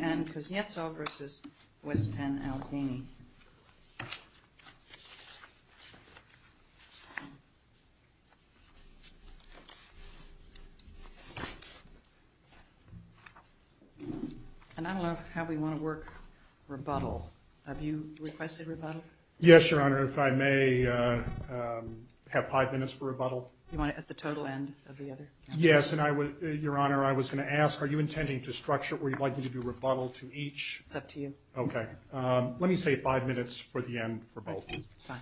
and Kuznetsov v. West Penn, Albania. And I don't know how we want to work rebuttal. Have you requested rebuttal? Yes, Your Honor. If I may have five minutes for rebuttal. Do you want it at the total end of the other? Yes. And I would, Your Honor, I was going to ask, are you intending to structure or would you like me to do rebuttal to each? It's up to you. Okay. Let me say five minutes for rebuttal. Five minutes for the end for both. That's fine.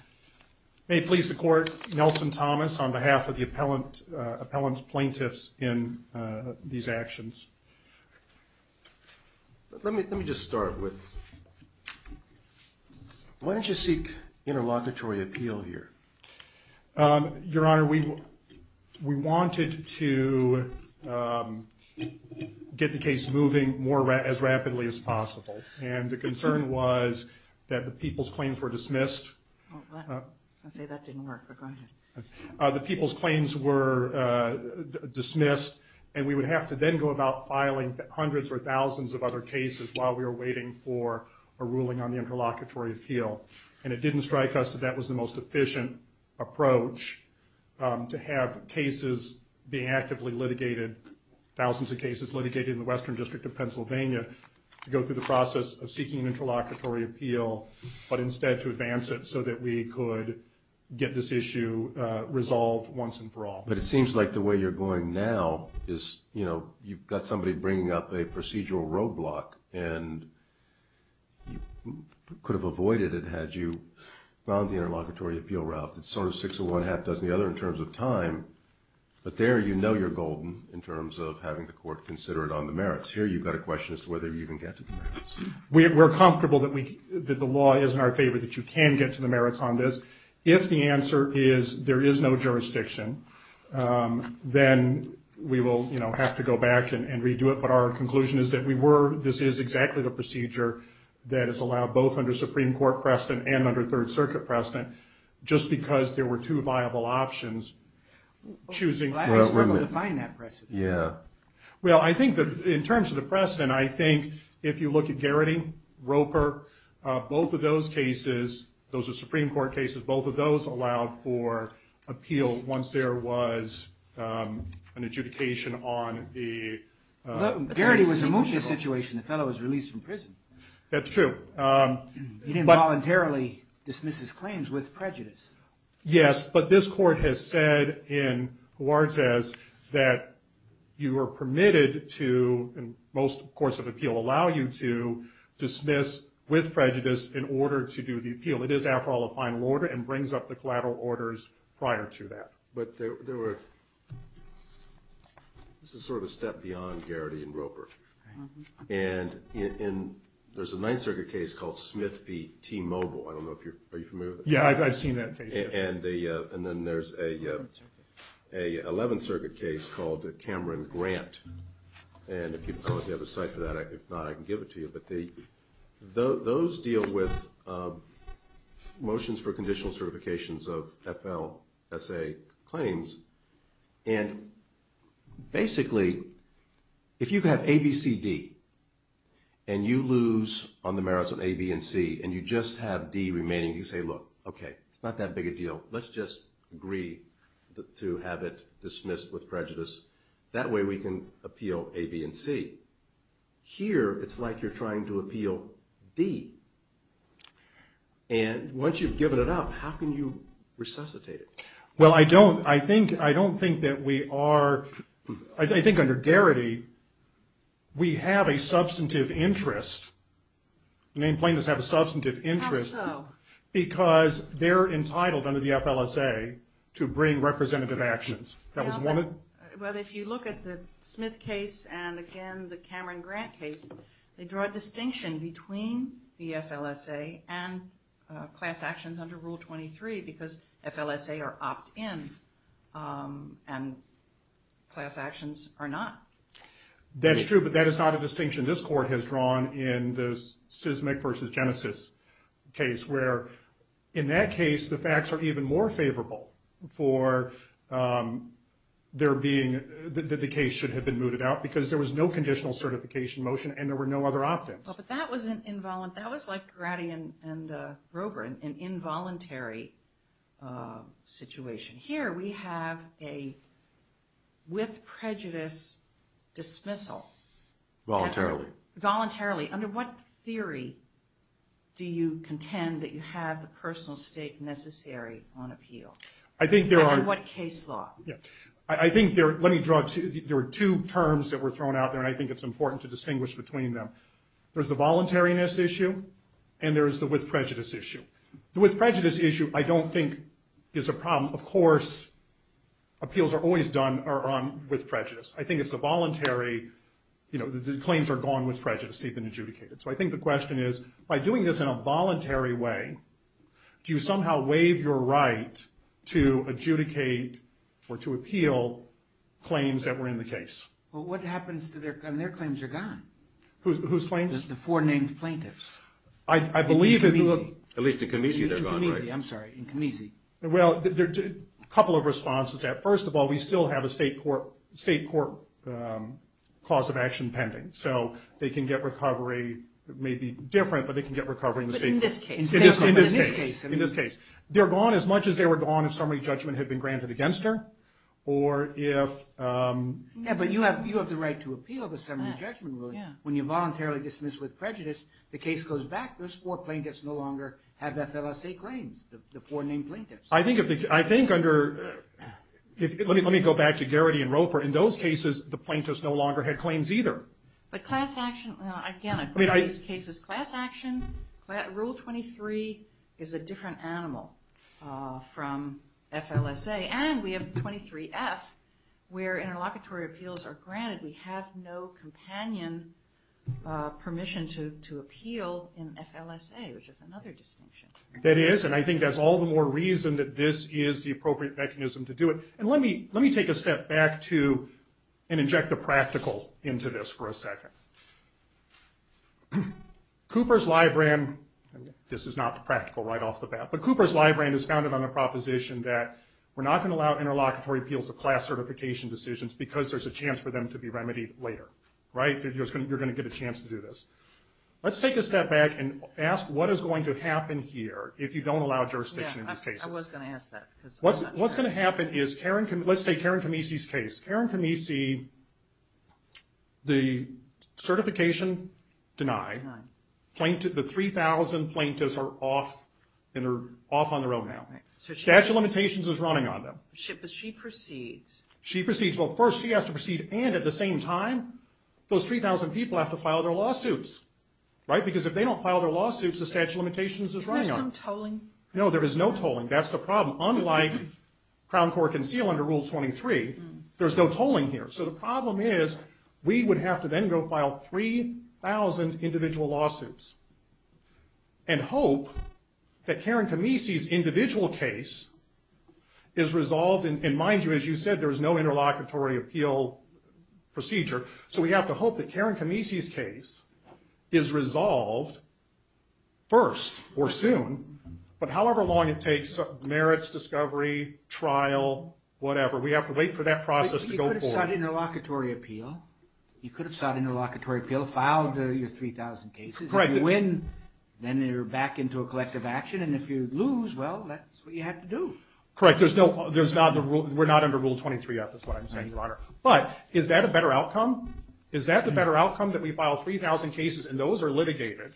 May it please the Court, Nelson Thomas on behalf of the appellant's plaintiffs in these actions. Let me just start with, why don't you seek interlocutory appeal here? Your Honor, we wanted to get the case moving more, as rapidly as possible. And the concern was that the people's claims were dismissed. I was going to say that didn't work, but go ahead. The people's claims were dismissed and we would have to then go about filing hundreds or thousands of other cases while we were waiting for a ruling on the interlocutory appeal. And it didn't strike us that that was the most efficient approach, to have cases being actively litigated, thousands of cases litigated in the Western District of Pennsylvania, to go through the process of seeking an interlocutory appeal, but instead to advance it so that we could get this issue resolved once and for all. But it seems like the way you're going now is, you know, you've got somebody bringing up a procedural roadblock and you could have avoided it had you gone the interlocutory appeal route. It's sort of six of one, half dozen of the other in terms of time, but there you know you're golden in terms of having the Court consider it on the merits. Here you've got a question as to whether you can get to the merits. We're comfortable that the law is in our favor, that you can get to the merits on this. If the answer is there is no jurisdiction, then we will, you know, have to go back and redo it. But our conclusion is that we were, this is exactly the procedure that is allowed both under Supreme Court precedent and under Third Circuit precedent, just because there were two viable options choosing. I struggle to find that precedent. Yeah. Well, I think that in terms of the precedent, I think if you look at Garrity, Roper, both of those cases, those are Supreme Court cases, both of those allowed for appeal once there was an adjudication on the... Garrity was a mootness situation. The fellow was released from prison. That's true. He didn't voluntarily dismiss his claims with prejudice. Yes, but this court has said in Huartez that you are permitted to, and most courts of appeal allow you to, dismiss with prejudice in order to do the appeal. It is, after all, a final order and brings up the collateral orders prior to that. But there were, this is sort of a step beyond Garrity and Roper. And there's a Ninth Circuit case called Smith v. T. Mogul. I don't know if you're, are you familiar with it? Yeah, I've seen that case. And then there's a Eleventh Circuit case called Cameron-Grant. And if you have a cite for that, if not, I can give it to you. But those deal with motions for conditional certifications of FLSA claims. And basically, if you have A, B, C, D, and you lose on the merits of A, B, and C, and you just have D remaining, you say, look, okay, it's not that big a deal. Let's just agree to have it dismissed with prejudice. That way we can appeal A, B, and C. Here, it's like you're trying to appeal D. And once you've given it up, how can you resuscitate it? Well, I don't, I think, I don't think that we are, I think under Garrity, we have a substantive interest. The named plaintiffs have a substantive interest. How so? Because they're entitled under the FLSA to bring representative actions. Well, if you look at the Smith case and, again, the Cameron-Grant case, they draw a distinction between the FLSA and class actions under Rule 23 because FLSA are opt-in and class actions are not. That's true, but that is not a distinction this Court has drawn in this Seismic v. Genesis case where, in that case, the facts are even more favorable for there being, that the case should have been mooted out because there was no conditional certification motion and there were no other opt-ins. Well, but that was an involuntary, that was like Garrity and Grover, an involuntary situation. Here, we have a, with prejudice, dismissal. Voluntarily. Voluntarily. Under what theory do you contend that you have the personal state necessary on appeal? I think there are... Under what case law? I think there, let me draw two, there are two terms that were thrown out there and I think it's important to distinguish between them. There's the voluntariness issue and there's the with prejudice issue. The with prejudice issue, I don't think, is a problem. Of course, appeals are always done with prejudice. I think it's a voluntary, you know, the claims are gone with prejudice. They've been adjudicated. So I think the question is, by doing this in a voluntary way, do you somehow waive your right to adjudicate or to appeal claims that were in the case? Well, what happens to their, I mean, their claims are gone. Whose claims? The four named plaintiffs. I believe... In Camisi. At least in Camisi they're gone, right? In Camisi, I'm sorry. In Camisi. Well, a couple of responses to that. First of all, we still have a state court cause of action pending. So they can get recovery, it may be different, but they can get recovery in the state court. But in this case. In this case. In this case. They're gone as much as they were gone if summary judgment had been granted against her. Or if... Yeah, but you have the right to appeal the summary judgment ruling. When you voluntarily dismiss with prejudice, the case goes back. Those four plaintiffs no longer have FLSA claims. The four named plaintiffs. I think under... Let me go back to Garrity and Roper. In those cases, the plaintiffs no longer had claims either. But class action... Again, I agree with this case's class action. Rule 23 is a different animal from FLSA. And we have 23F, where interlocutory appeals are granted. We have no companion permission to appeal in FLSA, which is another distinction. That is. And I think that's all the more reason that this is the appropriate mechanism to do it. And let me take a step back to... And inject the practical into this for a second. Cooper's Library... This is not practical right off the bat. But Cooper's Library is founded on the proposition that we're not going to allow interlocutory appeals of class certification decisions because there's a chance for them to be remedied later. Right? You're going to get a chance to do this. Let's take a step back and ask what is going to happen here if you don't allow jurisdiction in these cases. Yeah, I was going to ask that. What's going to happen is Karen... Let's take Karen Kamisi's case. Karen Kamisi, the certification denied. The 3,000 plaintiffs are off on their own now. Statute of Limitations is running on them. But she proceeds. She proceeds. Well, first she has to proceed. And at the same time, those 3,000 people have to file their lawsuits. Right? Because if they don't file their lawsuits, the Statute of Limitations is running on them. Isn't there some tolling? No, there is no tolling. That's the problem. Unlike Crown Court Conceal under Rule 23, there's no tolling here. So the problem is we would have to then go file 3,000 individual lawsuits and hope that Karen Kamisi's individual case is resolved. And mind you, as you said, there is no interlocutory appeal procedure. So we have to hope that Karen Kamisi's case is resolved first or soon. But however long it takes, merits, discovery, trial, whatever. We have to wait for that process to go forward. You could have sought interlocutory appeal. You could have sought interlocutory appeal, filed your 3,000 cases. Correct. If you win, then you're back into a collective action. And if you lose, well, that's what you have to do. Correct. We're not under Rule 23 yet, that's what I'm saying, Your Honor. But is that a better outcome? Is that the better outcome, that we file 3,000 cases and those are litigated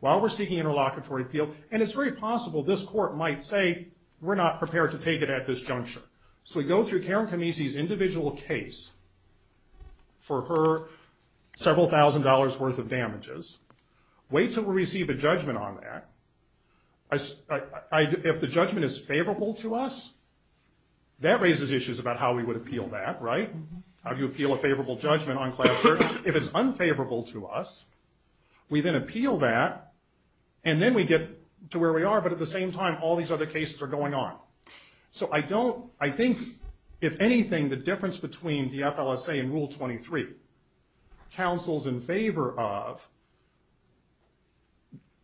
while we're seeking interlocutory appeal? And it's very possible this court might say, we're not prepared to take it at this juncture. So we go through Karen Kamisi's individual case for her several thousand dollars worth of damages, wait till we receive a judgment on that. If the judgment is favorable to us, that raises issues about how we would appeal that, right? How do you appeal a favorable judgment on class search? If it's unfavorable to us, we then appeal that and then we get to where we are. But at the same time, all these other cases are going on. So I don't, I think, if anything, the difference between DFLSA and Rule 23, counsels in favor of,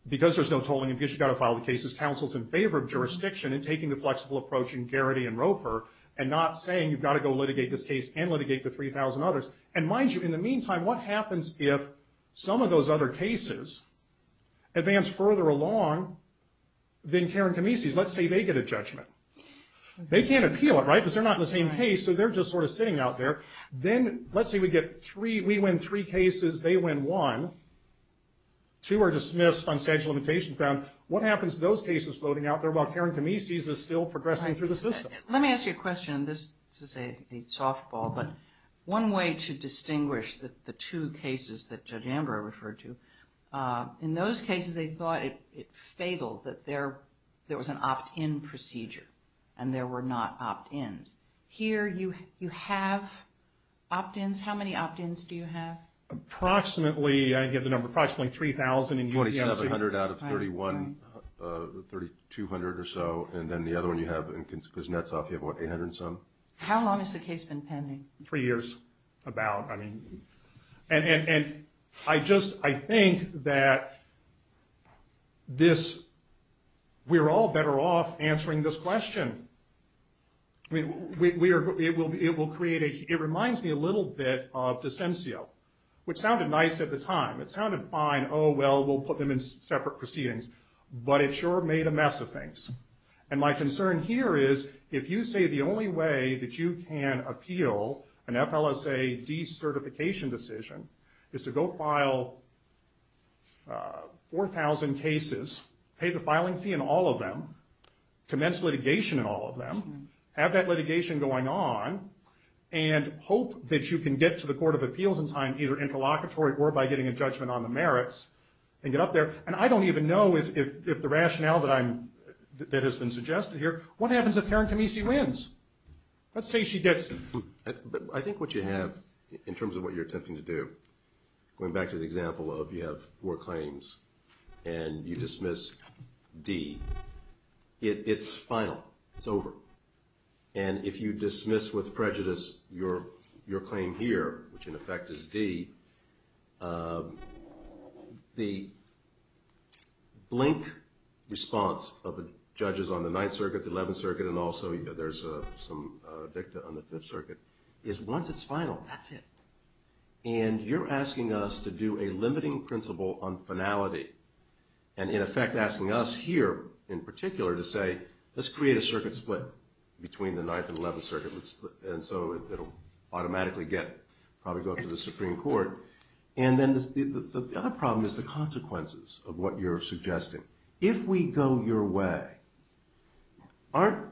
because there's no tolling and because you've got to file the cases, counsels in favor of jurisdiction in taking the flexible approach in Garrity and Roper and not saying you've got to go litigate this case and litigate the 3,000 others. And mind you, in the meantime, what happens if some of those other cases advance further along than Karen Kamisi's? Well, let's say they get a judgment. They can't appeal it, right, because they're not in the same case, so they're just sort of sitting out there. Then, let's say we get three, we win three cases, they win one, two are dismissed, substantial limitations found. What happens to those cases floating out there while Karen Kamisi's is still progressing through the system? Let me ask you a question, and this is a softball, but one way to distinguish the two cases that Judge Amber referred to, in those cases, they thought it fatal that there was an opt-in procedure and there were not opt-ins. Here, you have opt-ins. How many opt-ins do you have? Approximately, I get the number, approximately 3,000. 4,700 out of 3,200 or so, and then the other one you have, because Netsop, you have, what, 800 and some? How long has the case been pending? Three years, about. I mean, and I just, I think that this, we're all better off answering this question. It will create a, it reminds me a little bit of Dicencio, which sounded nice at the time. It sounded fine, oh, well, we'll put them in separate proceedings, but it sure made a mess of things. And my concern here is, if you say the only way that you can appeal an FLSA decertification decision is to go file 4,000 cases, pay the filing fee in all of them, commence litigation in all of them, have that litigation going on, and hope that you can get to the Court of Appeals in time, either interlocutory or by getting a judgment on the merits, and get up there, and I don't even know if the rationale that I'm, that has been suggested here, what happens if Karen Camisi wins? Let's say she does. I think what you have, in terms of what you're attempting to do, going back to the example of you have four claims, and you dismiss D, it's final, it's over. And if you dismiss with prejudice your claim here, which in effect is D, the blink response of the judges on the 9th Circuit, the 11th Circuit, and also there's some dicta on the 5th Circuit, is once it's final, that's it. And you're asking us to do a limiting principle on finality, and in effect asking us here, in particular, to say, let's create a circuit split between the 9th and 11th Circuit, and so it'll automatically get, probably go up to the Supreme Court. And then the other problem is the consequences of what you're suggesting. If we go your way, aren't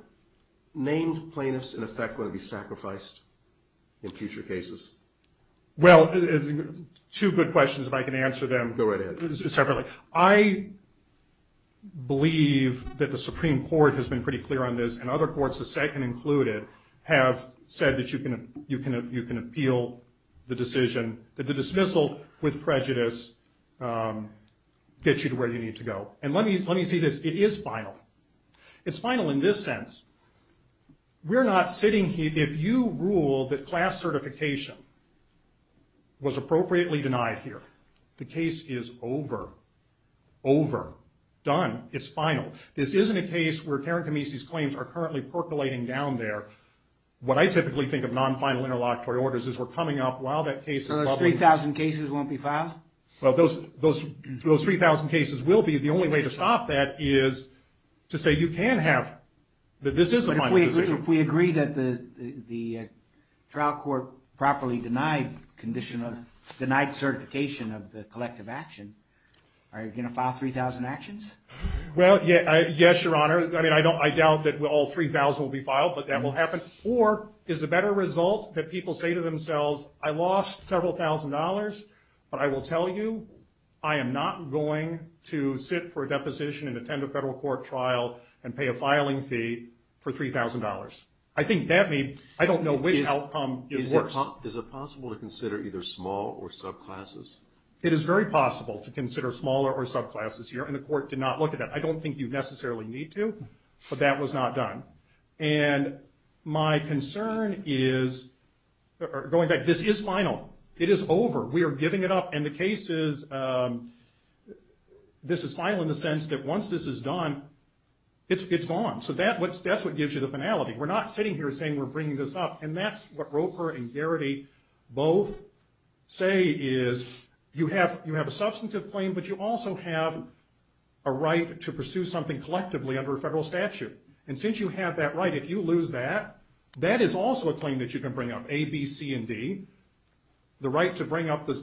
named plaintiffs in effect going to be sacrificed in future cases? Well, two good questions, if I can answer them separately. I believe that the Supreme Court has been pretty clear on this, and other courts, the second included, have said that you can appeal the decision, that the dismissal with prejudice gets you to where you need to go. And let me say this, it is final. It's final in this sense, we're not sitting here, if you rule that class certification was appropriately denied here, the case is over. Over. Done. It's final. This isn't a case where Karen Kamisi's claims are currently percolating down there. What I typically think of non-final interlocutory orders is we're coming up while that case is bubbling. So those 3,000 cases won't be filed? Well, those 3,000 cases will be. The only way to stop that is to say you can have, that this is a final decision. But if we agree that the trial court properly denied condition of, denied certification of the collective action, are you going to file 3,000 actions? Well, yes, Your Honor. I doubt that all 3,000 will be filed, but that will happen. Or, is a better result that people say to themselves, I lost several thousand dollars, but I will tell you, I am not going to sit for a deposition and attend a federal court trial and pay a filing fee for $3,000. I think that means, I don't know which outcome is worse. Is it possible to consider either small or subclasses? It is very possible to consider smaller or subclasses here, and the court did not look at that. I don't think you necessarily need to, but that was not done. And my concern is, going back, this is final. It is over. We are giving it up. And the case is, this is final in the sense that once this is done, it's gone. So that's what gives you the finality. We're not sitting here saying we're bringing this up. And that's what Roper and Garrity both say is, you have a substantive claim, but you also have a right to pursue something collectively under a federal statute. And since you have that right, if you lose that, that is also a claim that you can bring up, A, B, C, and D. The right to bring up the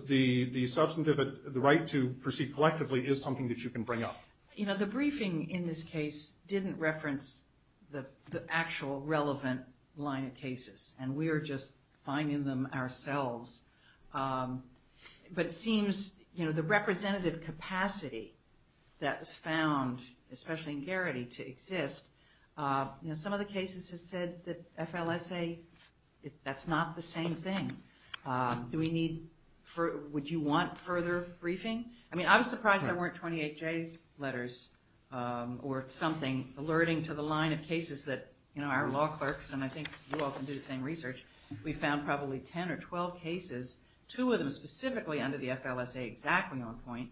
substantive, the right to proceed collectively is something that you can bring up. You know, the briefing in this case didn't reference the actual relevant line of cases. And we're just finding them ourselves. But it seems, you know, the representative capacity that was found, especially in Garrity, to exist. You know, some of the cases have said that FLSA, that's not the same thing. Do we need, would you want further briefing? I mean, I was surprised there weren't 28J letters or something alerting to the line of cases that, you know, our law clerks, and I think you all can do the same research, we found probably 10 or 12 cases, two of them specifically under the FLSA exactly on point,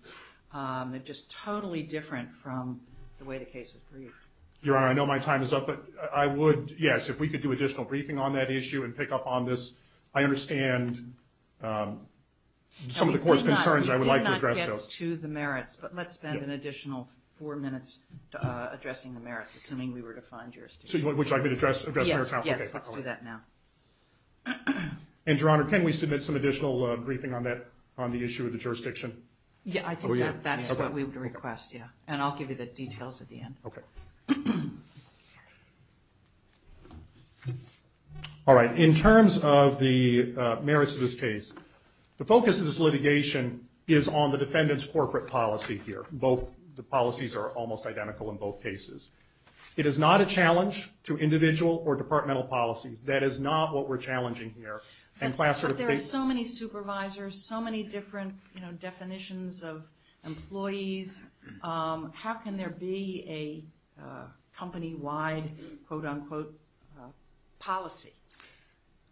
just totally different from the way the case was briefed. Your Honor, I know my time is up, but I would, yes, if we could do additional briefing on that issue and pick up on this. I understand some of the Court's concerns, and I would like to address those. We did not get to the merits, but let's spend an additional four minutes addressing the merits, assuming we were to find jurisdiction. Would you like me to address merits now? Yes, let's do that now. And, Your Honor, can we submit some additional briefing on the issue of the jurisdiction? Yeah, I think that's what we would request, yeah. And I'll give you the details at the end. Okay. All right, in terms of the merits of this case, the focus of this litigation is on the defendant's corporate policy here. Both the policies are almost identical in both cases. It is not a challenge to individual or departmental policies. That is not what we're challenging here. But there are so many supervisors, so many different definitions of employees. How can there be a company-wide, quote-unquote, policy?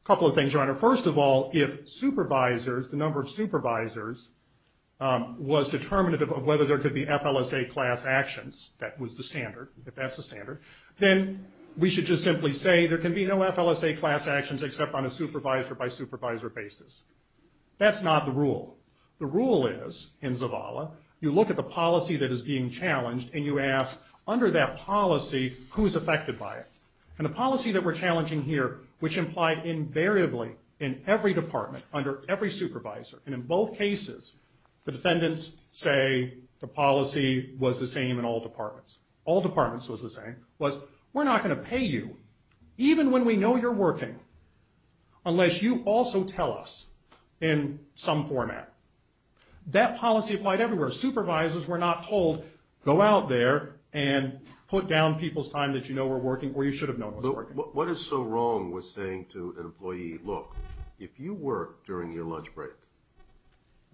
A couple of things, Your Honor. First of all, if supervisors, the number of supervisors, was determinative of whether there could be FLSA class actions, that was the standard, if that's the standard, then we should just simply say there can be no FLSA class actions except on a supervisor-by-supervisor basis. That's not the rule. The rule is, in Zavala, you look at the policy that is being challenged and you ask, under that policy, who is affected by it? And the policy that we're challenging here, which implied invariably in every department, under every supervisor, and in both cases, the defendants say the policy was the same in all departments. All departments was the same. It was, we're not going to pay you even when we know you're working unless you also tell us in some format. That policy applied everywhere. Supervisors were not told, go out there and put down people's time that you know were working or you should have known was working. What is so wrong with saying to an employee, look, if you work during your lunch break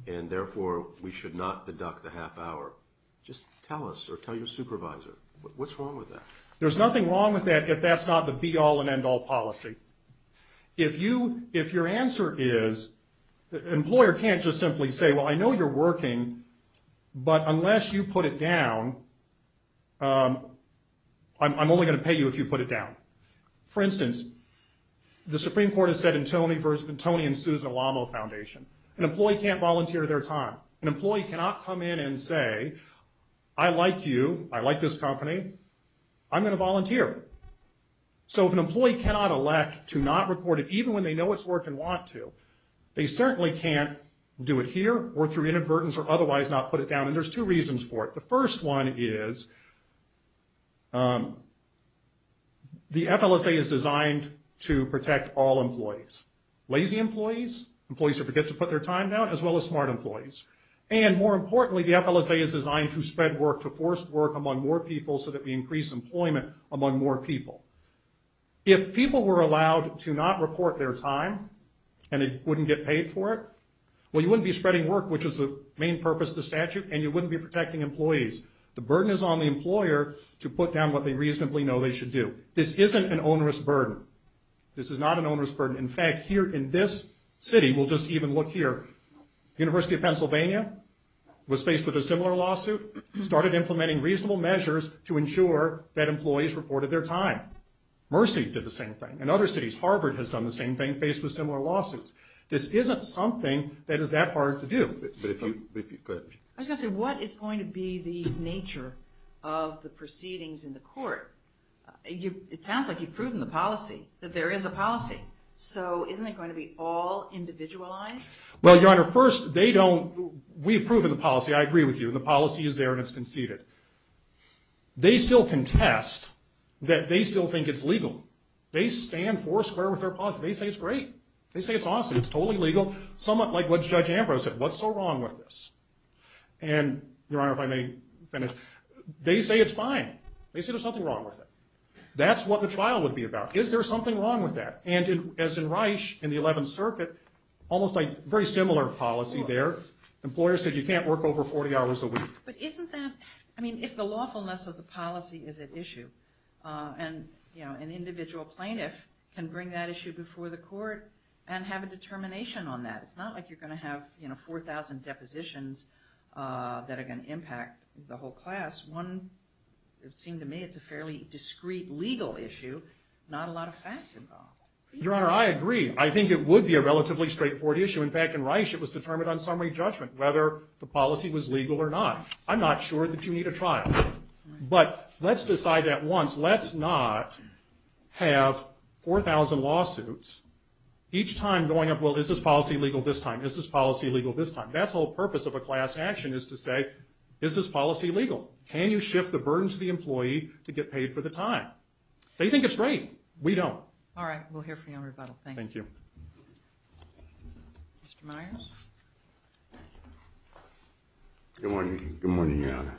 and therefore we should not deduct the half hour, just tell us or tell your supervisor. What's wrong with that? There's nothing wrong with that if that's not the be-all and end-all policy. If your answer is the employer can't just simply say, well, I know you're working but unless you put it down, I'm only going to pay you if you put it down. For instance, the Supreme Court has said in Tony versus Tony and Susan Alamo Foundation, an employee can't volunteer their time. An employee cannot come in and say, I like you. I like this company. I'm going to volunteer. If an employee cannot elect to not report it even when they know it's working and want to, they certainly can't do it here or through inadvertence or otherwise not put it down and there's two reasons for it. The first one is the FLSA is designed to protect all employees. Lazy employees, employees who forget to put their time down as well as smart employees. More importantly, the FLSA is designed to spread work, to force work among more people so that we increase employment among more people. If people were allowed to not report their time and they wouldn't get paid for it, well, you wouldn't be spreading work which is the main purpose of the statute and you wouldn't be protecting employees. The burden is on the employer to put down what they reasonably know they should do. This isn't an onerous burden. This is not an onerous burden. In fact, here in this city, we'll just even look here, University of Pennsylvania was faced with a similar lawsuit started implementing reasonable measures to ensure that employees reported their time. Mercy did the same thing. In other cities, Harvard has done the same thing faced with similar lawsuits. This isn't something that is that hard to do. I was going to say, what is going to be the nature of the proceedings in the court? It sounds like you've proven the policy, that there is a policy. So, isn't it going to be all individualized? Well, Your Honor, first, we've proven the policy. I agree with you. The policy is there and it's conceded. They still contest that they still think it's legal. They stand four square with their policy. They say it's great. They say it's awesome. It's totally legal. Judge Ambrose said, what's so wrong with this? Your Honor, if I may finish. They say it's fine. They say there's something wrong with it. That's what the trial would be about. Is there something wrong with that? As in Reich, in the 11th Circuit, almost a very similar policy there. Employers said you can't work over 40 hours a week. If the lawfulness of the policy is at issue, an individual plaintiff can bring that issue before the court and have a determination on that. It's not like you're going to have 4,000 depositions that are going to impact the whole class. It seems to me it's a fairly discreet legal issue. Not a lot of facts involved. Your Honor, I agree. I think it would be a relatively straightforward issue. In fact, in Reich, it was determined on summary judgment whether the policy was legal or not. I'm not sure that you need a trial. Let's decide that once. Let's not have 4,000 lawsuits each time going up, well, is this policy legal this time? Is this policy legal this time? That's the whole purpose of a class action is to say is this policy legal? Can you shift the burden to the employee to get paid for the time? They think it's great. We don't. All right. We'll hear from you on rebuttal. Thank you. Mr. Myers? Good morning, Your Honor.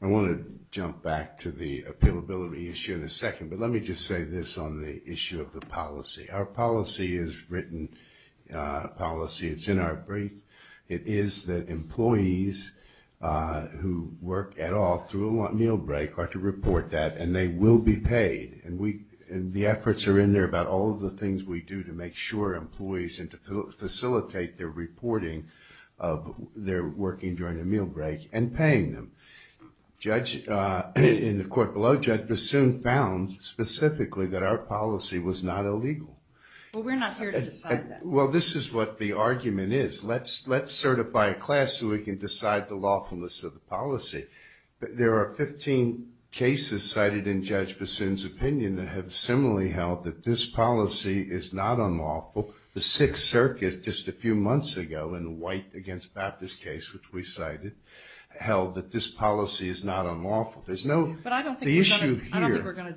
I want to jump back to the appealability issue in a second, but let me just say this on the issue of the policy. Our policy is written policy. It's in our brief. It is that employees who work at all through a meal break are to report that and they will be paid. The efforts are in there about all of the things we do to make sure employees and to facilitate their reporting of their working during a meal break and paying them. Judge in the court below Judge Bassoon found specifically that our policy was not illegal. We're not here to decide that. Well, this is what the argument is. Let's decide the lawfulness of the policy. There are 15 cases cited in Judge Bassoon's opinion that have similarly held that this policy is not unlawful. The Sixth Circus just a few months ago in the White against Baptist case which we cited held that this policy is not unlawful. There's no issue here. I don't think we're going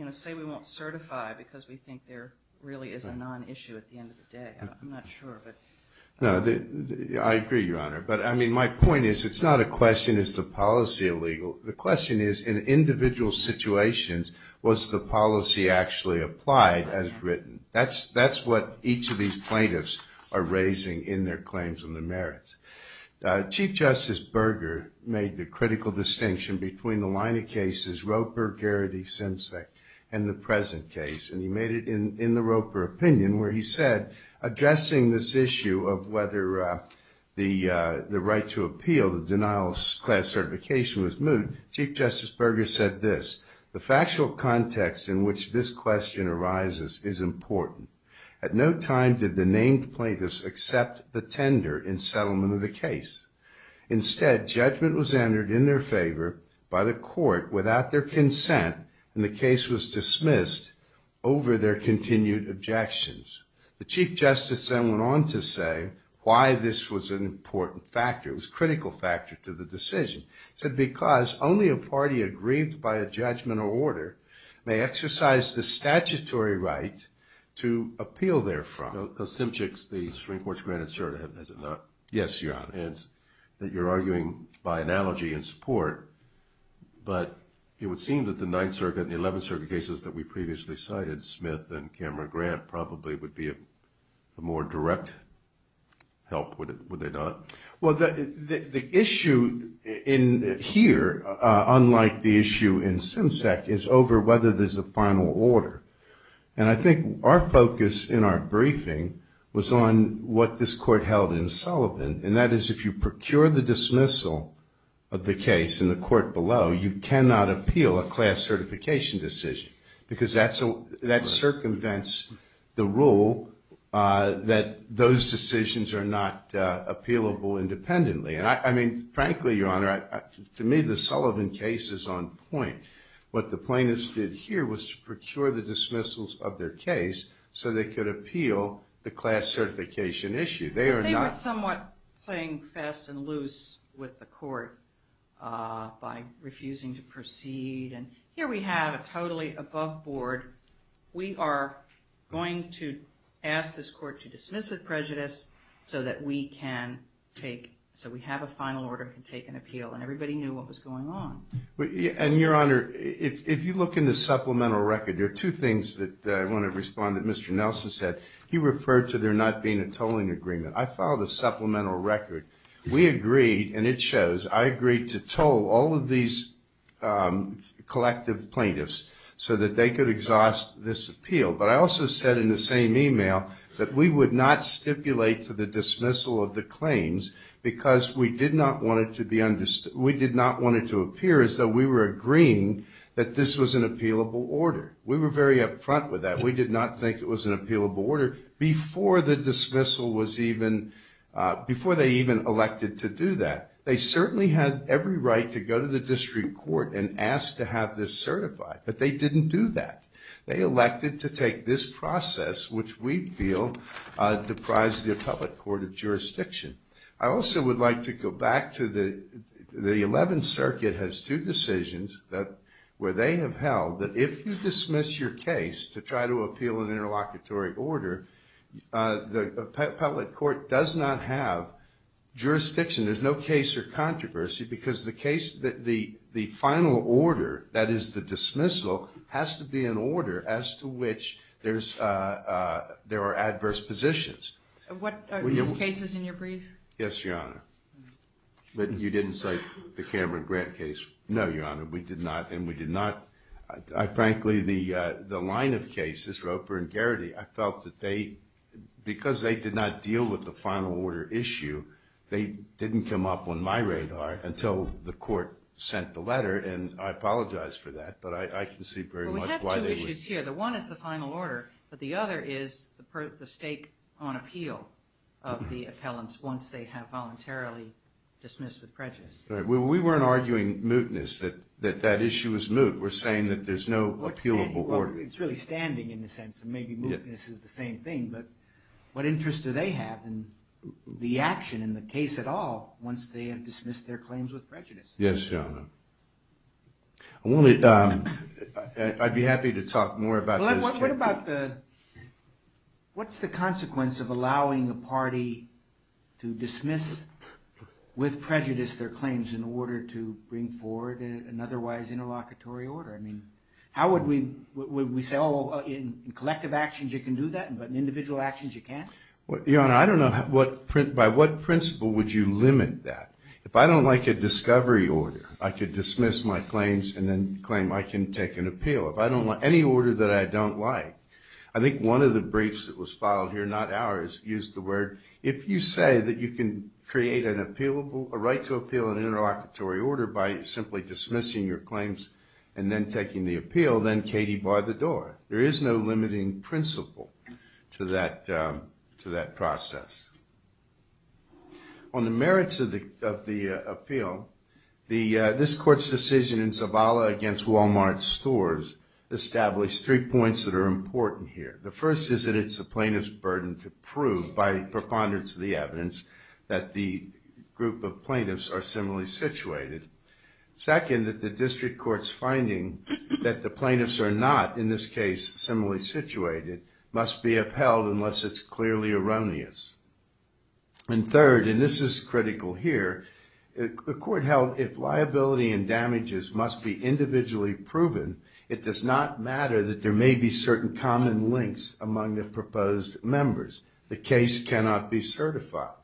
to say we won't certify because we think there really is a non-issue at the end of the day. I'm not sure. I agree, Your Honor. My point is it's not a question is the policy illegal? The question is in individual situations was the policy actually applied as written? That's what each of these plaintiffs are raising in their claims and their merits. Chief Justice Berger made the critical distinction between the line of cases Roper, Garrity, Simsek and the present case and he made it in the Roper opinion where he said addressing this issue of whether the right to appeal the denial of class certification was moot, Chief Justice Berger said this, the factual context in which this question arises is important. At no time did the named plaintiffs accept the tender in settlement of the case. Instead judgment was entered in their favor by the court without their consent and the case was dismissed over their continued objections. The Chief Justice then went on to say why this was an important factor. It was a critical factor to the decision. He said because only a party agreed by a judgment or order may exercise the statutory right to appeal therefrom. Now Simsek, the Supreme Court's granted cert, has it not? Yes, Your Honor. And that you're arguing by analogy in support but it would seem that the Ninth Circuit and the Eleventh Circuit cases that we previously cited, Smith and Cameron Grant, probably would be a more direct help, would they not? Well, the issue in here unlike the issue in Simsek is over whether there's a final order. And I think our focus in our briefing was on what this court held in Sullivan and that is if you procure the dismissal of the case in the court below, you cannot appeal a class certification decision. Because that circumvents the rule that those decisions are not appealable independently. And I mean frankly, Your Honor, to me the Sullivan case is on point. What the plaintiffs did here was procure the dismissals of their case so they could appeal the class certification issue. They were somewhat playing fast and loose with the court by refusing to totally above board. We are going to ask this court to dismiss with prejudice so that we can take, so we have a final order to take an appeal. And everybody knew what was going on. And Your Honor, if you look in the supplemental record there are two things that I want to respond to that Mr. Nelson said. He referred to there not being a tolling agreement. I filed a supplemental record. We agreed, and it shows, I agreed to toll all of these collective plaintiffs so that they could exhaust this appeal. But I also said in the same email that we would not stipulate to the dismissal of the claims because we did not want it to appear as though we were agreeing that this was an appealable order. We were very up front with that. We did not think it was an appealable order before the dismissal was even before they even elected to do that. They certainly had every right to go to the district court and ask to have this certified. But they didn't do that. They elected to take this process, which we feel deprives the public court of jurisdiction. I also would like to go back to the 11th Circuit has two decisions that, where they have held that if you dismiss your case to try to appeal an interlocutory order, the public court does not have jurisdiction. There's no case or controversy because the final order, that is the dismissal, has to be an order as to which there are adverse positions. Are those cases in your brief? Yes, Your Honor. You didn't say the Cameron Grant case? No, Your Honor. We did not. Frankly, the line of cases, Roper and Garrity, I felt that because they did not deal with the final order issue, they didn't come up on my radar until the court sent the letter. I apologize for that, but I can see very much why they would. We have two issues here. The one is the final order, but the other is the stake on appeal of the appellants once they have voluntarily dismissed with prejudice. We weren't arguing mootness, that that issue was moot. We're saying that there's no appealable order. It's really standing in the sense that maybe mootness is the same thing, but what interest do they have in the action and the case at all once they have dismissed their claims with prejudice? Yes, Your Honor. I'd be happy to talk more about this. What's the consequence of allowing a party to dismiss with prejudice their claims in order to bring forward an otherwise interlocutory order? How would we say, in collective actions you can do that, but in individual actions you can't? Your Honor, I don't know by what principle would you limit that? If I don't like a discovery order, I could dismiss my claims and then claim I can take an appeal. If I don't like any order that I don't like, I think one of the briefs that was filed here, not ours, used the word if you say that you can create a right to appeal an interlocutory order by simply dismissing your claims and then taking the appeal, then Katie bar the door. There is no limiting principle to that process. On the merits of the appeal, this Court's decision in Zavala against Walmart stores established three points that are important here. The first is that it's the plaintiff's burden to prove by preponderance group of plaintiffs are similarly situated. Second, that the district court's finding that the plaintiffs are not, in this case, similarly situated, must be upheld unless it's clearly erroneous. And third, and this is critical here, the Court held if liability and damages must be individually proven, it does not matter that there may be certain common links among the proposed members. The case cannot be certified.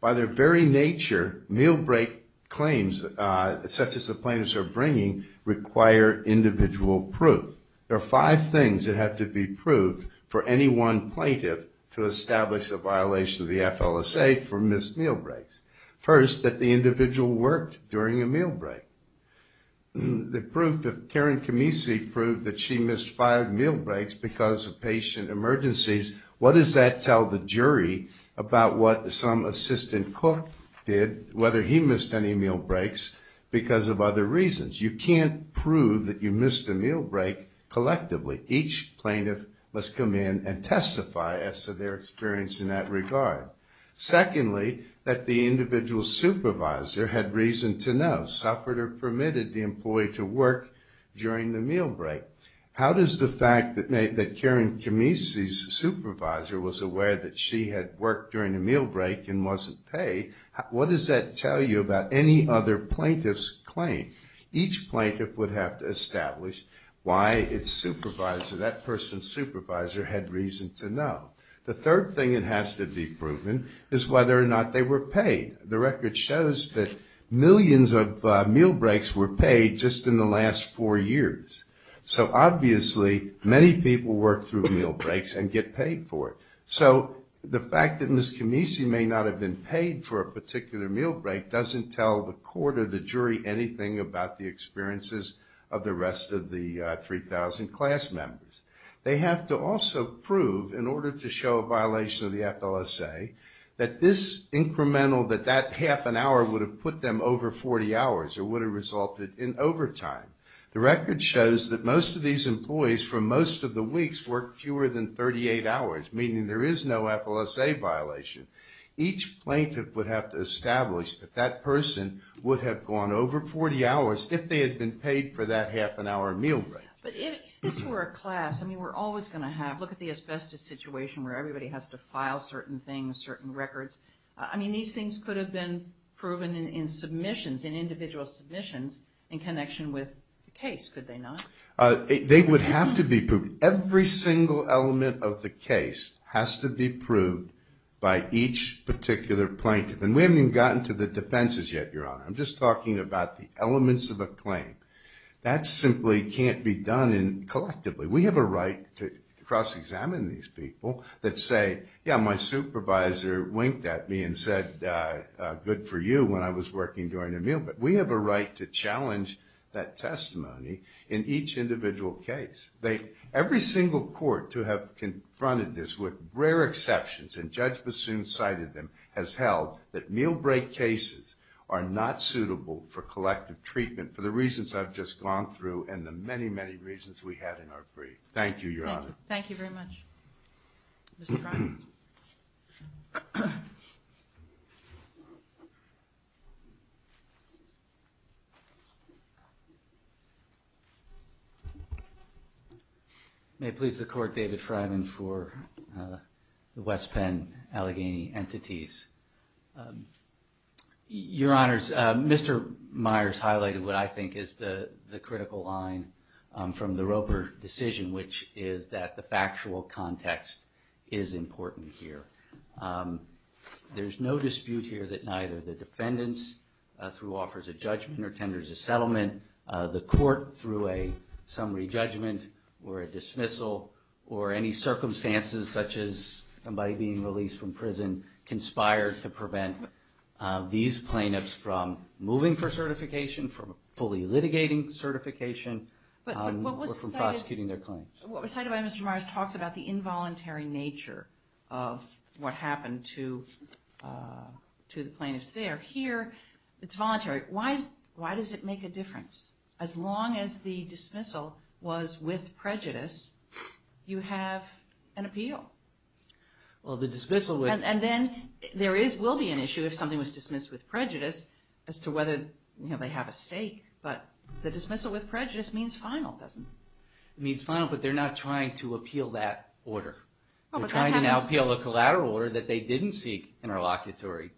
By their very nature, meal break claims, such as the prior individual proof, there are five things that have to be proved for any one plaintiff to establish a violation of the FLSA for missed meal breaks. First, that the individual worked during a meal break. The proof, if Karen Camisi proved that she missed five meal breaks because of patient emergencies, what does that tell the jury about what some assistant cook did, whether he missed any meal breaks, because of other reasons. You can't prove that you missed a meal break collectively. Each plaintiff must come in and testify as to their experience in that regard. Secondly, that the individual supervisor had reason to know, suffered or permitted the employee to work during the meal break. How does the fact that Karen Camisi's supervisor was aware that she had worked during a meal break and wasn't paid, what does that tell you about any other plaintiff's claim? Each plaintiff would have to establish why its supervisor, that person's supervisor, had reason to know. The third thing that has to be proven is whether or not they were paid. The record shows that millions of meal breaks were paid just in the last four years. So obviously, many people work through meal breaks and get paid for it. So the fact that Ms. Camisi may not have been paid for a particular meal break doesn't tell the court or the jury anything about the experiences of the rest of the 3,000 class members. They have to also prove, in order to show a violation of the FLSA, that this incremental, that that half an hour would have put them over 40 hours or would have resulted in overtime. The record shows that most of these employees for most of the weeks worked fewer than 38 hours, meaning there is no FLSA violation. Each plaintiff would have to establish that that person would have gone over 40 hours if they had been paid for that half an hour meal break. But if this were a class, I mean, we're always going to have look at the asbestos situation where everybody has to file certain things, certain records. I mean, these things could have been proven in submissions, in individual submissions, in connection with the case, could they not? They would have to be proven. Every single element of the case has to be proved by each particular plaintiff. And we haven't even gotten to the defenses yet, Your Honor. I'm just talking about the elements of a claim. That simply can't be done collectively. We have a right to cross-examine these people that say, yeah, my supervisor winked at me and said, good for you when I was working during a meal break. We have a right to challenge that testimony in each individual case. Every single court to have confronted this with rare exceptions, and Judge Bassoon cited them, has held that meal break cases are not suitable for collective treatment for the reasons I've just gone through and the many, many reasons we had in our brief. Thank you, Your Honor. Thank you very much. Mr. Cronin. May it please the Court, David Freiman for the West Penn Allegheny Entities. Your Honors, Mr. Myers highlighted what I think is the critical line from the Roper decision, which is that the factual context is important here. There's no dispute here that neither the defendants, through offers of judgment or tenders of settlement, the court, through a summary judgment, or a dismissal, or any circumstances such as somebody being released from prison, conspired to prevent these plaintiffs from moving for certification, from fully litigating certification, or from prosecuting their claims. What was cited by Mr. Myers talks about the involuntary nature of what happened to the plaintiffs there. Here, it's voluntary. Why does it make a difference? As long as the dismissal was with prejudice, you have an appeal. Well, the dismissal would... And then, there will be an issue if something was dismissed with prejudice as to whether they have a stake, but the dismissal with prejudice means final, doesn't it? It means final, but they're not trying to appeal that order. They're trying to appeal a collateral order that they didn't seek interlocutory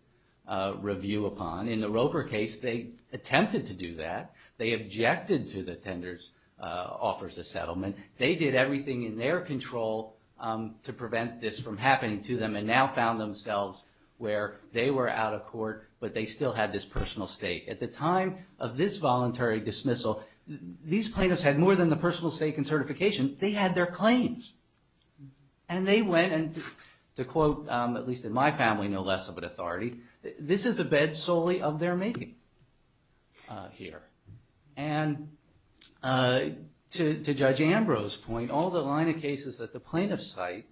review upon. In the Roper case, they attempted to do that. They objected to the tenders offers of settlement. They did everything in their control to prevent this from happening to them, and now found themselves where they were out of court, but they still had this personal stake. At the time of this voluntary dismissal, these plaintiffs had more than the personal stake and certification. They had their claims, and they went and, to quote, at least in my family, no less of an authority, this is a bed solely of their making here. And to Judge Ambrose's point, all the line of cases that the plaintiffs cite,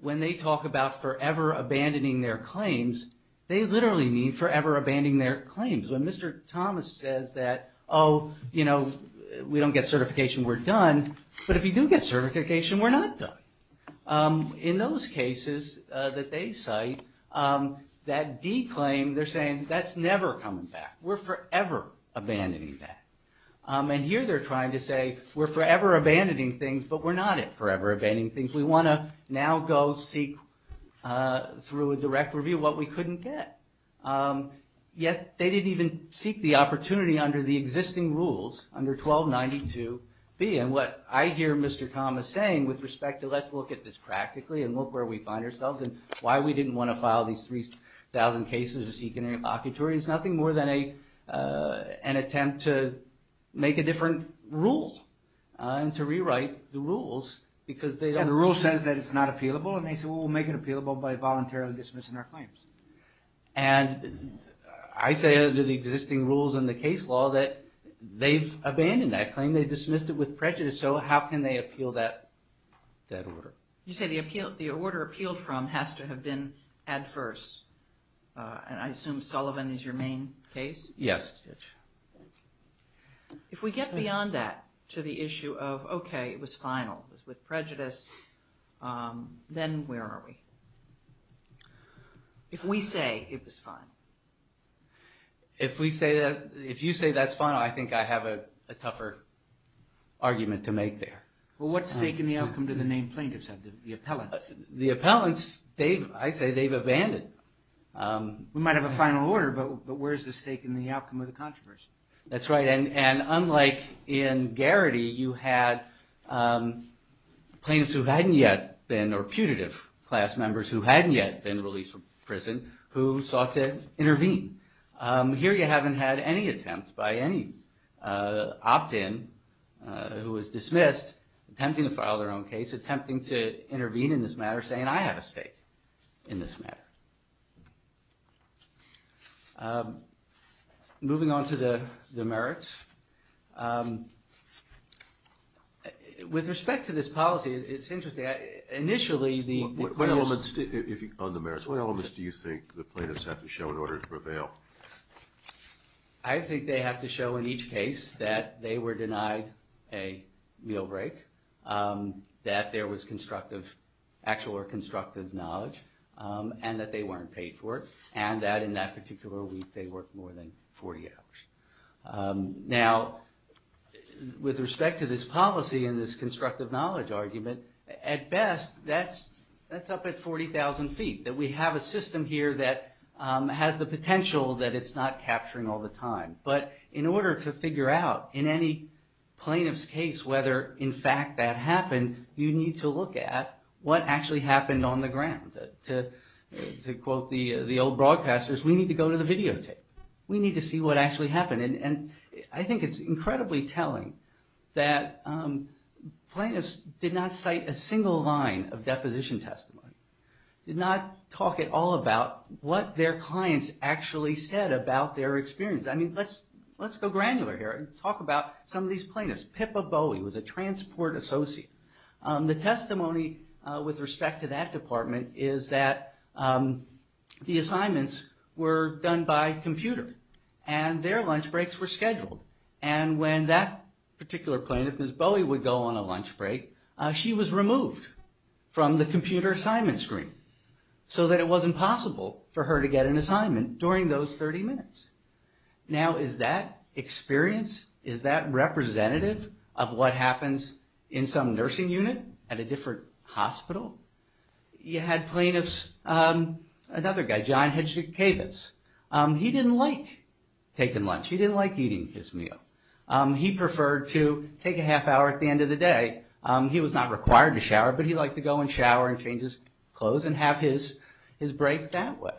when they talk about forever abandoning their claims, they literally mean forever abandoning their claims. When Mr. Thomas says that, oh, you know, we don't get certification, we're done, but if you do get certification, we're not done. In those cases that they cite, that D claim, they're saying, that's never coming back. We're forever abandoning that. And here they're trying to say, we're forever abandoning things, but we're not at forever abandoning things. We want to now go seek through a direct review what we couldn't get. Yet, they didn't even seek the opportunity under the existing rules, under 1292 B. And what I hear Mr. Thomas saying with respect to let's look at this practically and look where we find ourselves and why we didn't want to file these 3,000 cases or seek an invocatory, it's nothing more than an attempt to make a different rule and to rewrite the rules because they don't... And the rule says that it's not appealable and they say, well, we'll make it appealable by and I say under the existing rules and the case law that they've abandoned that claim, they dismissed it with prejudice, so how can they appeal that order? You say the order appealed from has to have been adverse and I assume Sullivan is your main case? Yes. If we get beyond that to the issue of, okay, it was final, it was with prejudice, then where are we? If we say it was final. If we say that, if you say that's final, I think I have a tougher argument to make there. Well, what stake in the outcome do the named plaintiffs have, the appellants? The appellants, I'd say they've abandoned. We might have a final order, but where's the stake in the outcome of the controversy? That's right and unlike in Garrity, you had plaintiffs who hadn't yet been, or putative class members who hadn't yet been released from prison who sought to intervene. Here you haven't had any attempt by any opt-in who was dismissed attempting to file their own case, attempting to intervene in this matter, saying I have a stake in this matter. Moving on to the merits. With respect to this policy, it's interesting. Initially, the plaintiffs On the merits, what elements do you think the plaintiffs have to show in order to prevail? I think they have to show in each case that they were denied a meal break, that there was constructive, actual or constructive knowledge, and that they weren't paid for it, and that in that particular week they worked more than 40 hours. Now, with respect to this policy and this constructive knowledge argument, at best that's up at 40,000 feet, that we have a system here that has the potential that it's not capturing all the time, but in order to figure out in any plaintiff's case whether in fact that happened, you need to look at what actually happened on the ground. To quote the old broadcasters, we need to go to the videotape. We need to see what actually happened. I think it's incredibly telling that plaintiffs did not cite a single line of deposition testimony. Did not talk at all about what their clients actually said about their experience. Let's go granular here and talk about some of these plaintiffs. Pippa Bowie was a transport associate. The testimony with respect to that department is that the assignments were done by computer and their lunch breaks were scheduled and when that particular plaintiff, Ms. Bowie, would go on a lunch break she was removed from the computer assignment screen so that it wasn't possible for her to get an assignment during those 30 minutes. Now, is that experience, is that representative of what happens in some nursing unit at a different hospital? You know, you had plaintiffs, another guy, John Kavis. He didn't like taking lunch. He didn't like eating his meal. He preferred to take a half hour at the end of the day. He was not required to shower, but he liked to go and shower and change his clothes and have his break that way.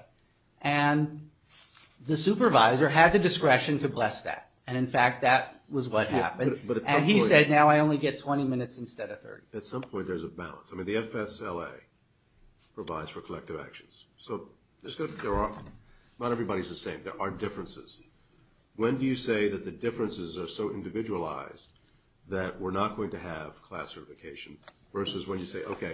The supervisor had the discretion to bless that. In fact, that was what happened. He said, now I only get 20 minutes instead of 30. At some point there's a balance. The FSLA provides for collective actions. Not everybody's the same. There are differences. When do you say that the differences are so individualized that we're not going to have class certification versus when you say, okay,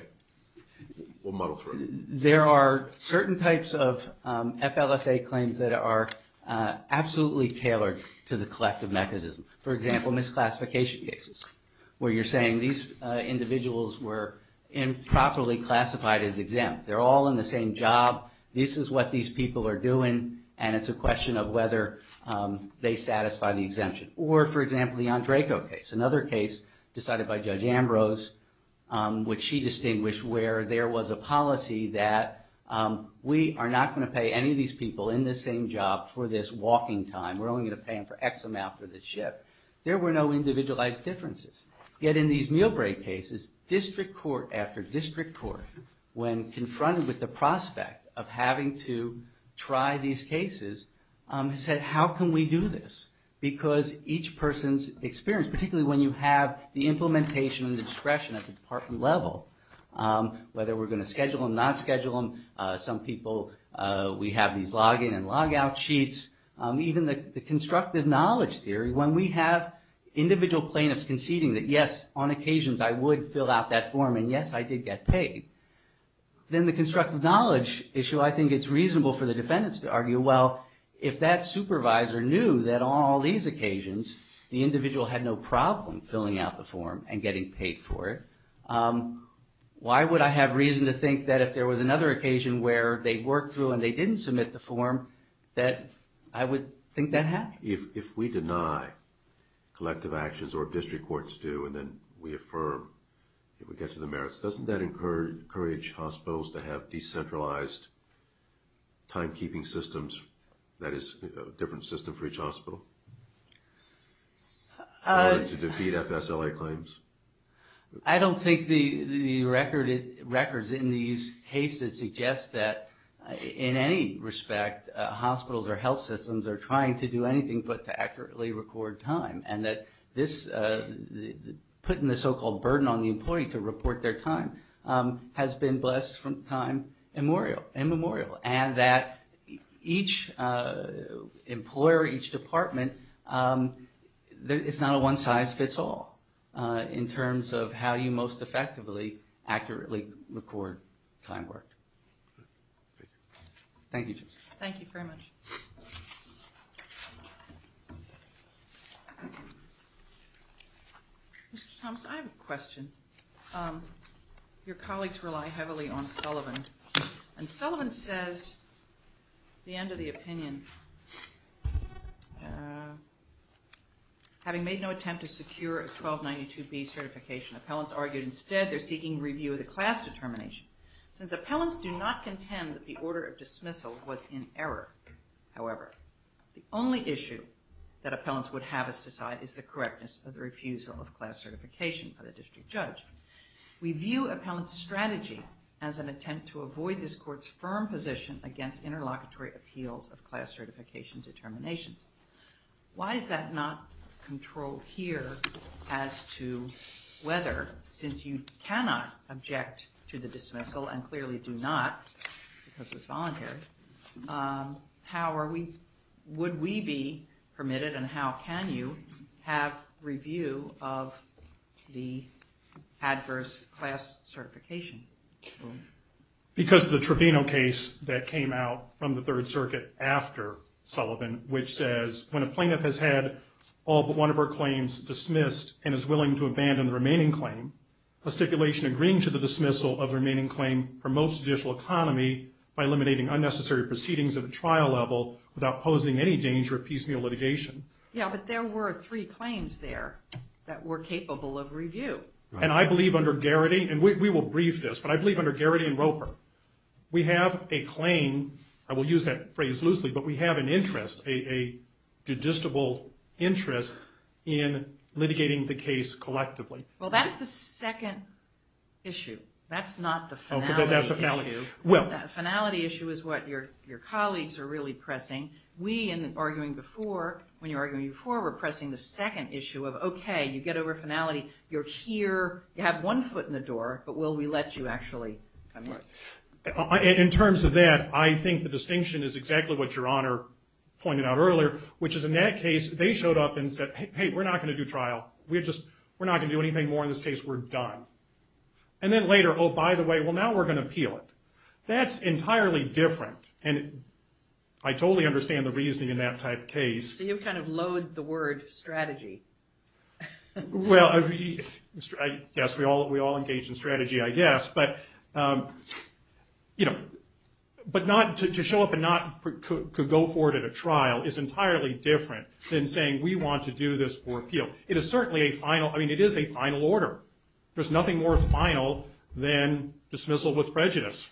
we'll muddle through. There are certain types of FLSA claims that are absolutely tailored to the collective mechanism. For example, misclassification cases where you're saying these individuals were improperly classified as exempt. They're all in the same job. This is what these people are doing, and it's a question of whether they satisfy the exemption. Or, for example, the Andrejko case, another case decided by Judge Ambrose which she distinguished where there was a policy that we are not going to pay any of these people in this same job for this walking time. We're only going to pay them for X amount for this shift. There were no individualized differences. Yet in these meal break cases, district court after district court, when confronted with the prospect of having to try these cases said, how can we do this? Because each person's experience, particularly when you have the implementation and discretion at the department level, whether we're going to schedule them, not schedule them. Some people, we have these login and logout sheets. Even the constructive knowledge theory, when we have individual plaintiffs conceding that yes, on occasions I would fill out that form and yes, I did get paid. Then the constructive knowledge issue, I think it's reasonable for the defendants to argue well, if that supervisor knew that on all these occasions the individual had no problem filling out the form and getting paid for it, why would I have reason to think that if there was another occasion where they worked through and they didn't submit the form that I would think that happened. If we deny collective actions or district courts do and then we affirm that we get to the merits, doesn't that encourage hospitals to have decentralized timekeeping systems that is a different system for each hospital? In order to defeat FSLA claims? I don't think the records in these cases suggest that in any respect hospitals or health systems are trying to do anything but to accurately record time and that putting the so-called burden on the employee to report their time has been blessed from time immemorial and that each employer, each department it's not a one size fits all in terms of how you most effectively accurately record time work. Thank you. Thank you very much. Mr. Thomas, I have a question. Your colleagues rely heavily on Sullivan and Sullivan says the end of the opinion having made no attempt to secure a 1292B certification, appellants argue instead they're seeking review of the class determination. Since appellants do not contend that the order of dismissal was in error, however the only issue that appellants would have us decide is the correctness of the refusal of class certification by the district judge. We view appellant's strategy as an attempt to avoid this court's firm position against interlocutory appeals of class certification determinations. Why is that not control here as to whether since you cannot object to the dismissal and clearly do not because it's voluntary how are we would we be permitted and how can you have review of the adverse class certification? Because the Trevino case that came out from the Third Circuit after Sullivan which says when a plaintiff has had all but one of her claims dismissed and is willing to abandon the remaining claim a stipulation agreeing to the dismissal of the remaining claim promotes judicial economy by eliminating unnecessary proceedings at a trial level without posing any danger of piecemeal litigation. Yeah, but there were three claims there that were capable of review. And I believe under Garrity and we will brief this, but I believe under Garrity and Roper we have a claim, I will use that phrase loosely, but we have an interest, a judiciable interest in litigating the case collectively. Well, that's the second issue. That's not the finality issue. The finality issue is what your colleagues are really pressing. We in arguing before, when you were arguing before, were pressing the second issue of okay, you get over finality, you're here you have one foot in the door but will we let you actually come in? In terms of that I think the distinction is exactly what your in that case they showed up and said hey, we're not going to do trial, we're just we're not going to do anything more in this case, we're done. And then later, oh by the way well now we're going to appeal it. That's entirely different and I totally understand the reasoning in that type case. So you kind of load the word strategy. Well, yes, we all engage in strategy I guess, but you know, but not to show up and not go forward at a trial is entirely different than saying we want to do this for appeal. It is certainly a final, I mean it is a final order. There's nothing more final than dismissal with prejudice.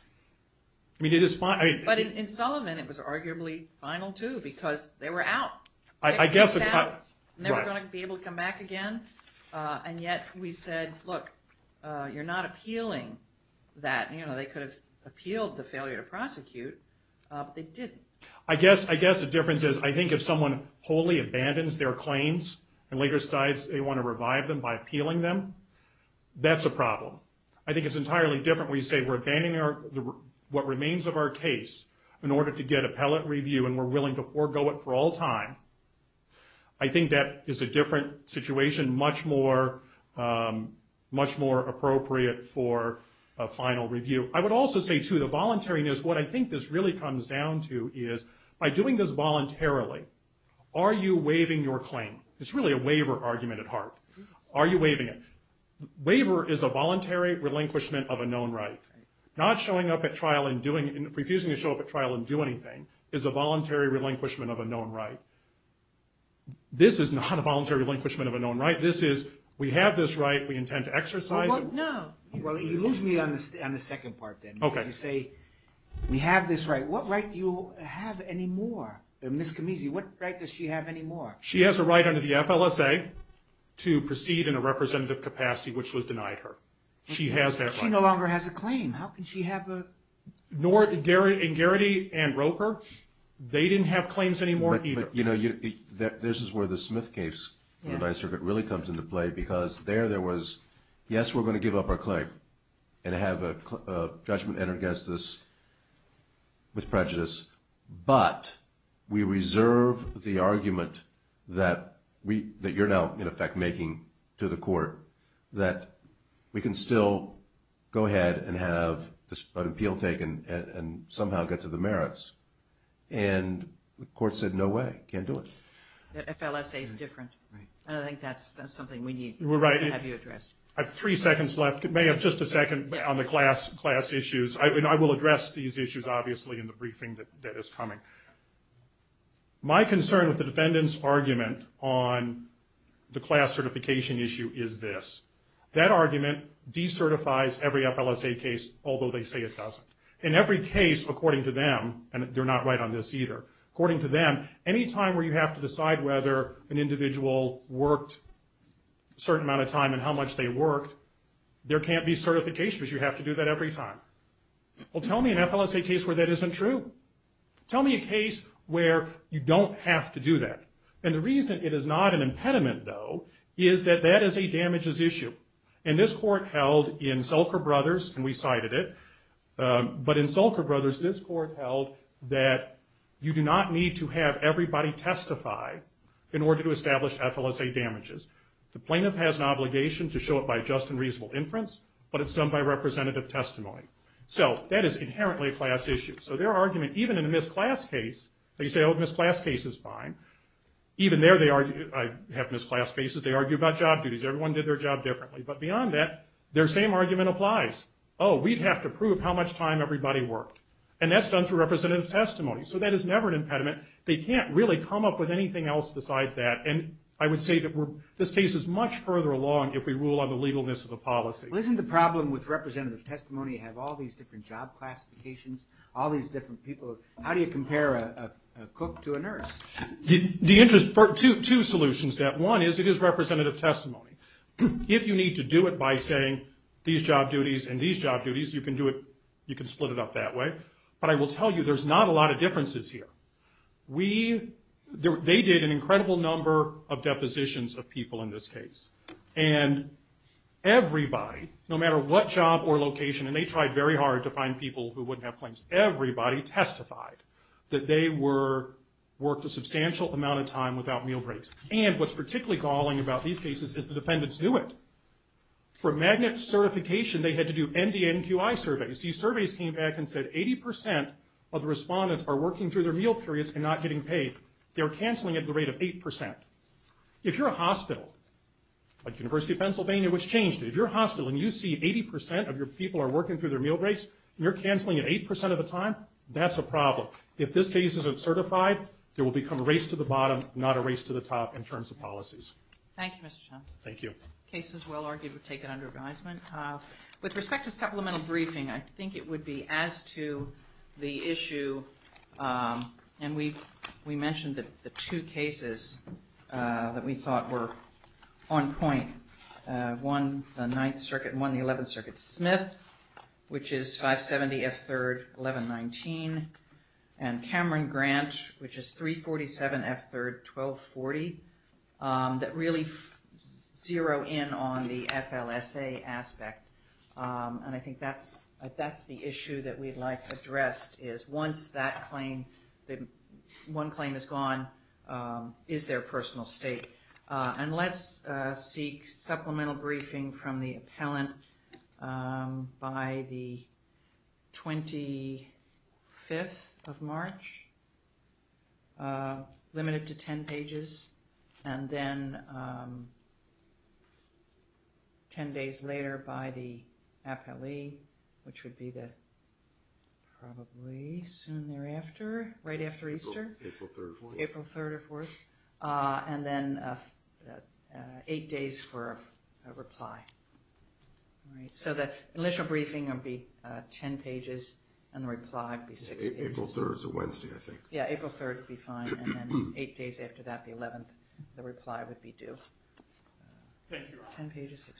I mean it is final. But in Solomon it was arguably final too because they were out. I guess they were going to be able to come back again and yet we said look, you're not appealing that, you know, they could have appealed the failure to prosecute but they didn't. I guess the difference is I think if someone wholly abandons their claims and later decides they want to revive them by appealing them, that's a problem. I think it's entirely different when you say we're abandoning what remains of our case in order to get appellate review and we're willing to forego it for all time. I think that is a different situation much more appropriate for a final review. I would also say too the voluntariness, what I think this really comes down to is by doing this voluntarily are you waiving your claim? It's really a waiver argument at heart. Are you waiving it? Waiver is a voluntary relinquishment of a known right. Not showing up at trial and doing and refusing to show up at trial and do anything is a voluntary relinquishment of a known right. This is not a voluntary relinquishment of a known right. This is we have this right, we intend to exercise it. You lose me on the second part then. You say we have this right. What right do you have anymore? What right does she have anymore? She has a right under the FLSA to proceed in a representative capacity which was denied her. She has that right. She no longer has a claim. How can she have a... Garity and Roper, they didn't have claims anymore either. This is where the Smith case really comes into play because there was, yes we're going to give up our claim and have a judgment entered against us with prejudice but we reserve the argument that you're now in effect making to the court that we can still go ahead and have an appeal taken and somehow get to the merits and the court said no way. Can't do it. FLSA is different. I think that's something we need to have you address. I have three seconds left. May I have just a second on the class issues. I will address these issues obviously in the briefing that is coming. My concern with the defendant's argument on the class certification issue is this. That argument decertifies every FLSA case although they say it doesn't. In every case according to them, and they're not right on this either, according to them any time where you have to decide whether an individual worked a certain amount of time and how much they worked there can't be certification because you have to do that every time. Tell me an FLSA case where that isn't true. Tell me a case where you don't have to do that. The reason it is not an impediment though is that that is a damages issue. This court held in Selker Brothers, and we cited it, but in Selker Brothers this court held that you do not need to have everybody testify in order to establish FLSA damages. The plaintiff has an obligation to show it by just and reasonable inference, but it's done by representative testimony. That is inherently a class issue. Their argument even in a missed class case, they say, oh, missed class case is fine. Even there they argue, I have missed class cases, they argue about job duties. Everyone did their job differently, but beyond that their same argument applies. Oh, we'd have to prove how much time everybody worked. That's done through representative testimony. That is never an impediment. They can't really come up with anything else besides that. I would say that this case is much further along if we rule on the legalness of the policy. Isn't the problem with representative testimony have all these different job classifications, all these different people? How do you compare a cook to a nurse? Two solutions. One is it is representative testimony. If you need to do it by saying these job duties and these job duties, you can split it up that way. I will tell you there's not a lot of differences here. They did an incredible number of depositions of people in this case. Everybody, no matter what job or location, and they tried very hard to find people who wouldn't have claims, everybody testified that they worked a substantial amount of time without meal breaks. What's particularly galling about these cases is the defendants knew it. For magnet certification, they had to do NDNQI surveys. These surveys came back and said 80% of the respondents are working through their meal periods and not getting paid. They're canceling at the rate of 8%. If you're a hospital like University of Pennsylvania, which changed it, if you're a hospital and you see 80% of your people are working through their meal breaks and you're canceling at 8% of the time, that's a problem. If this case isn't certified, there will become a race to the bottom not a race to the top in terms of policies. Thank you, Mr. Jones. Thank you. The case is well argued. We'll take it under advisement. With respect to supplemental briefing, I think it would be as to the issue and we mentioned the two cases that we thought were on point. One, the 9th Circuit and one, the 11th Circuit. Smith, which is 570 F3rd 1119 and Cameron Grant which is 347 F3rd 1240 that really zero in on the FLSA aspect. I think that's the issue that we'd like addressed is once that claim one claim is gone, is there a personal state? Let's seek supplemental briefing from the appellant by the 25th of March limited to 10 pages and then 10 days later by the appellee which would be probably soon thereafter, right after Easter. April 3rd or 4th. And then 8 days for a reply. So the initial briefing would be 10 pages and the reply would be 6 pages. April 3rd is Wednesday, I think. Yeah, April 3rd would be fine and then 8 days after that, the 11th, the reply would be due. 10 pages, 6 pages.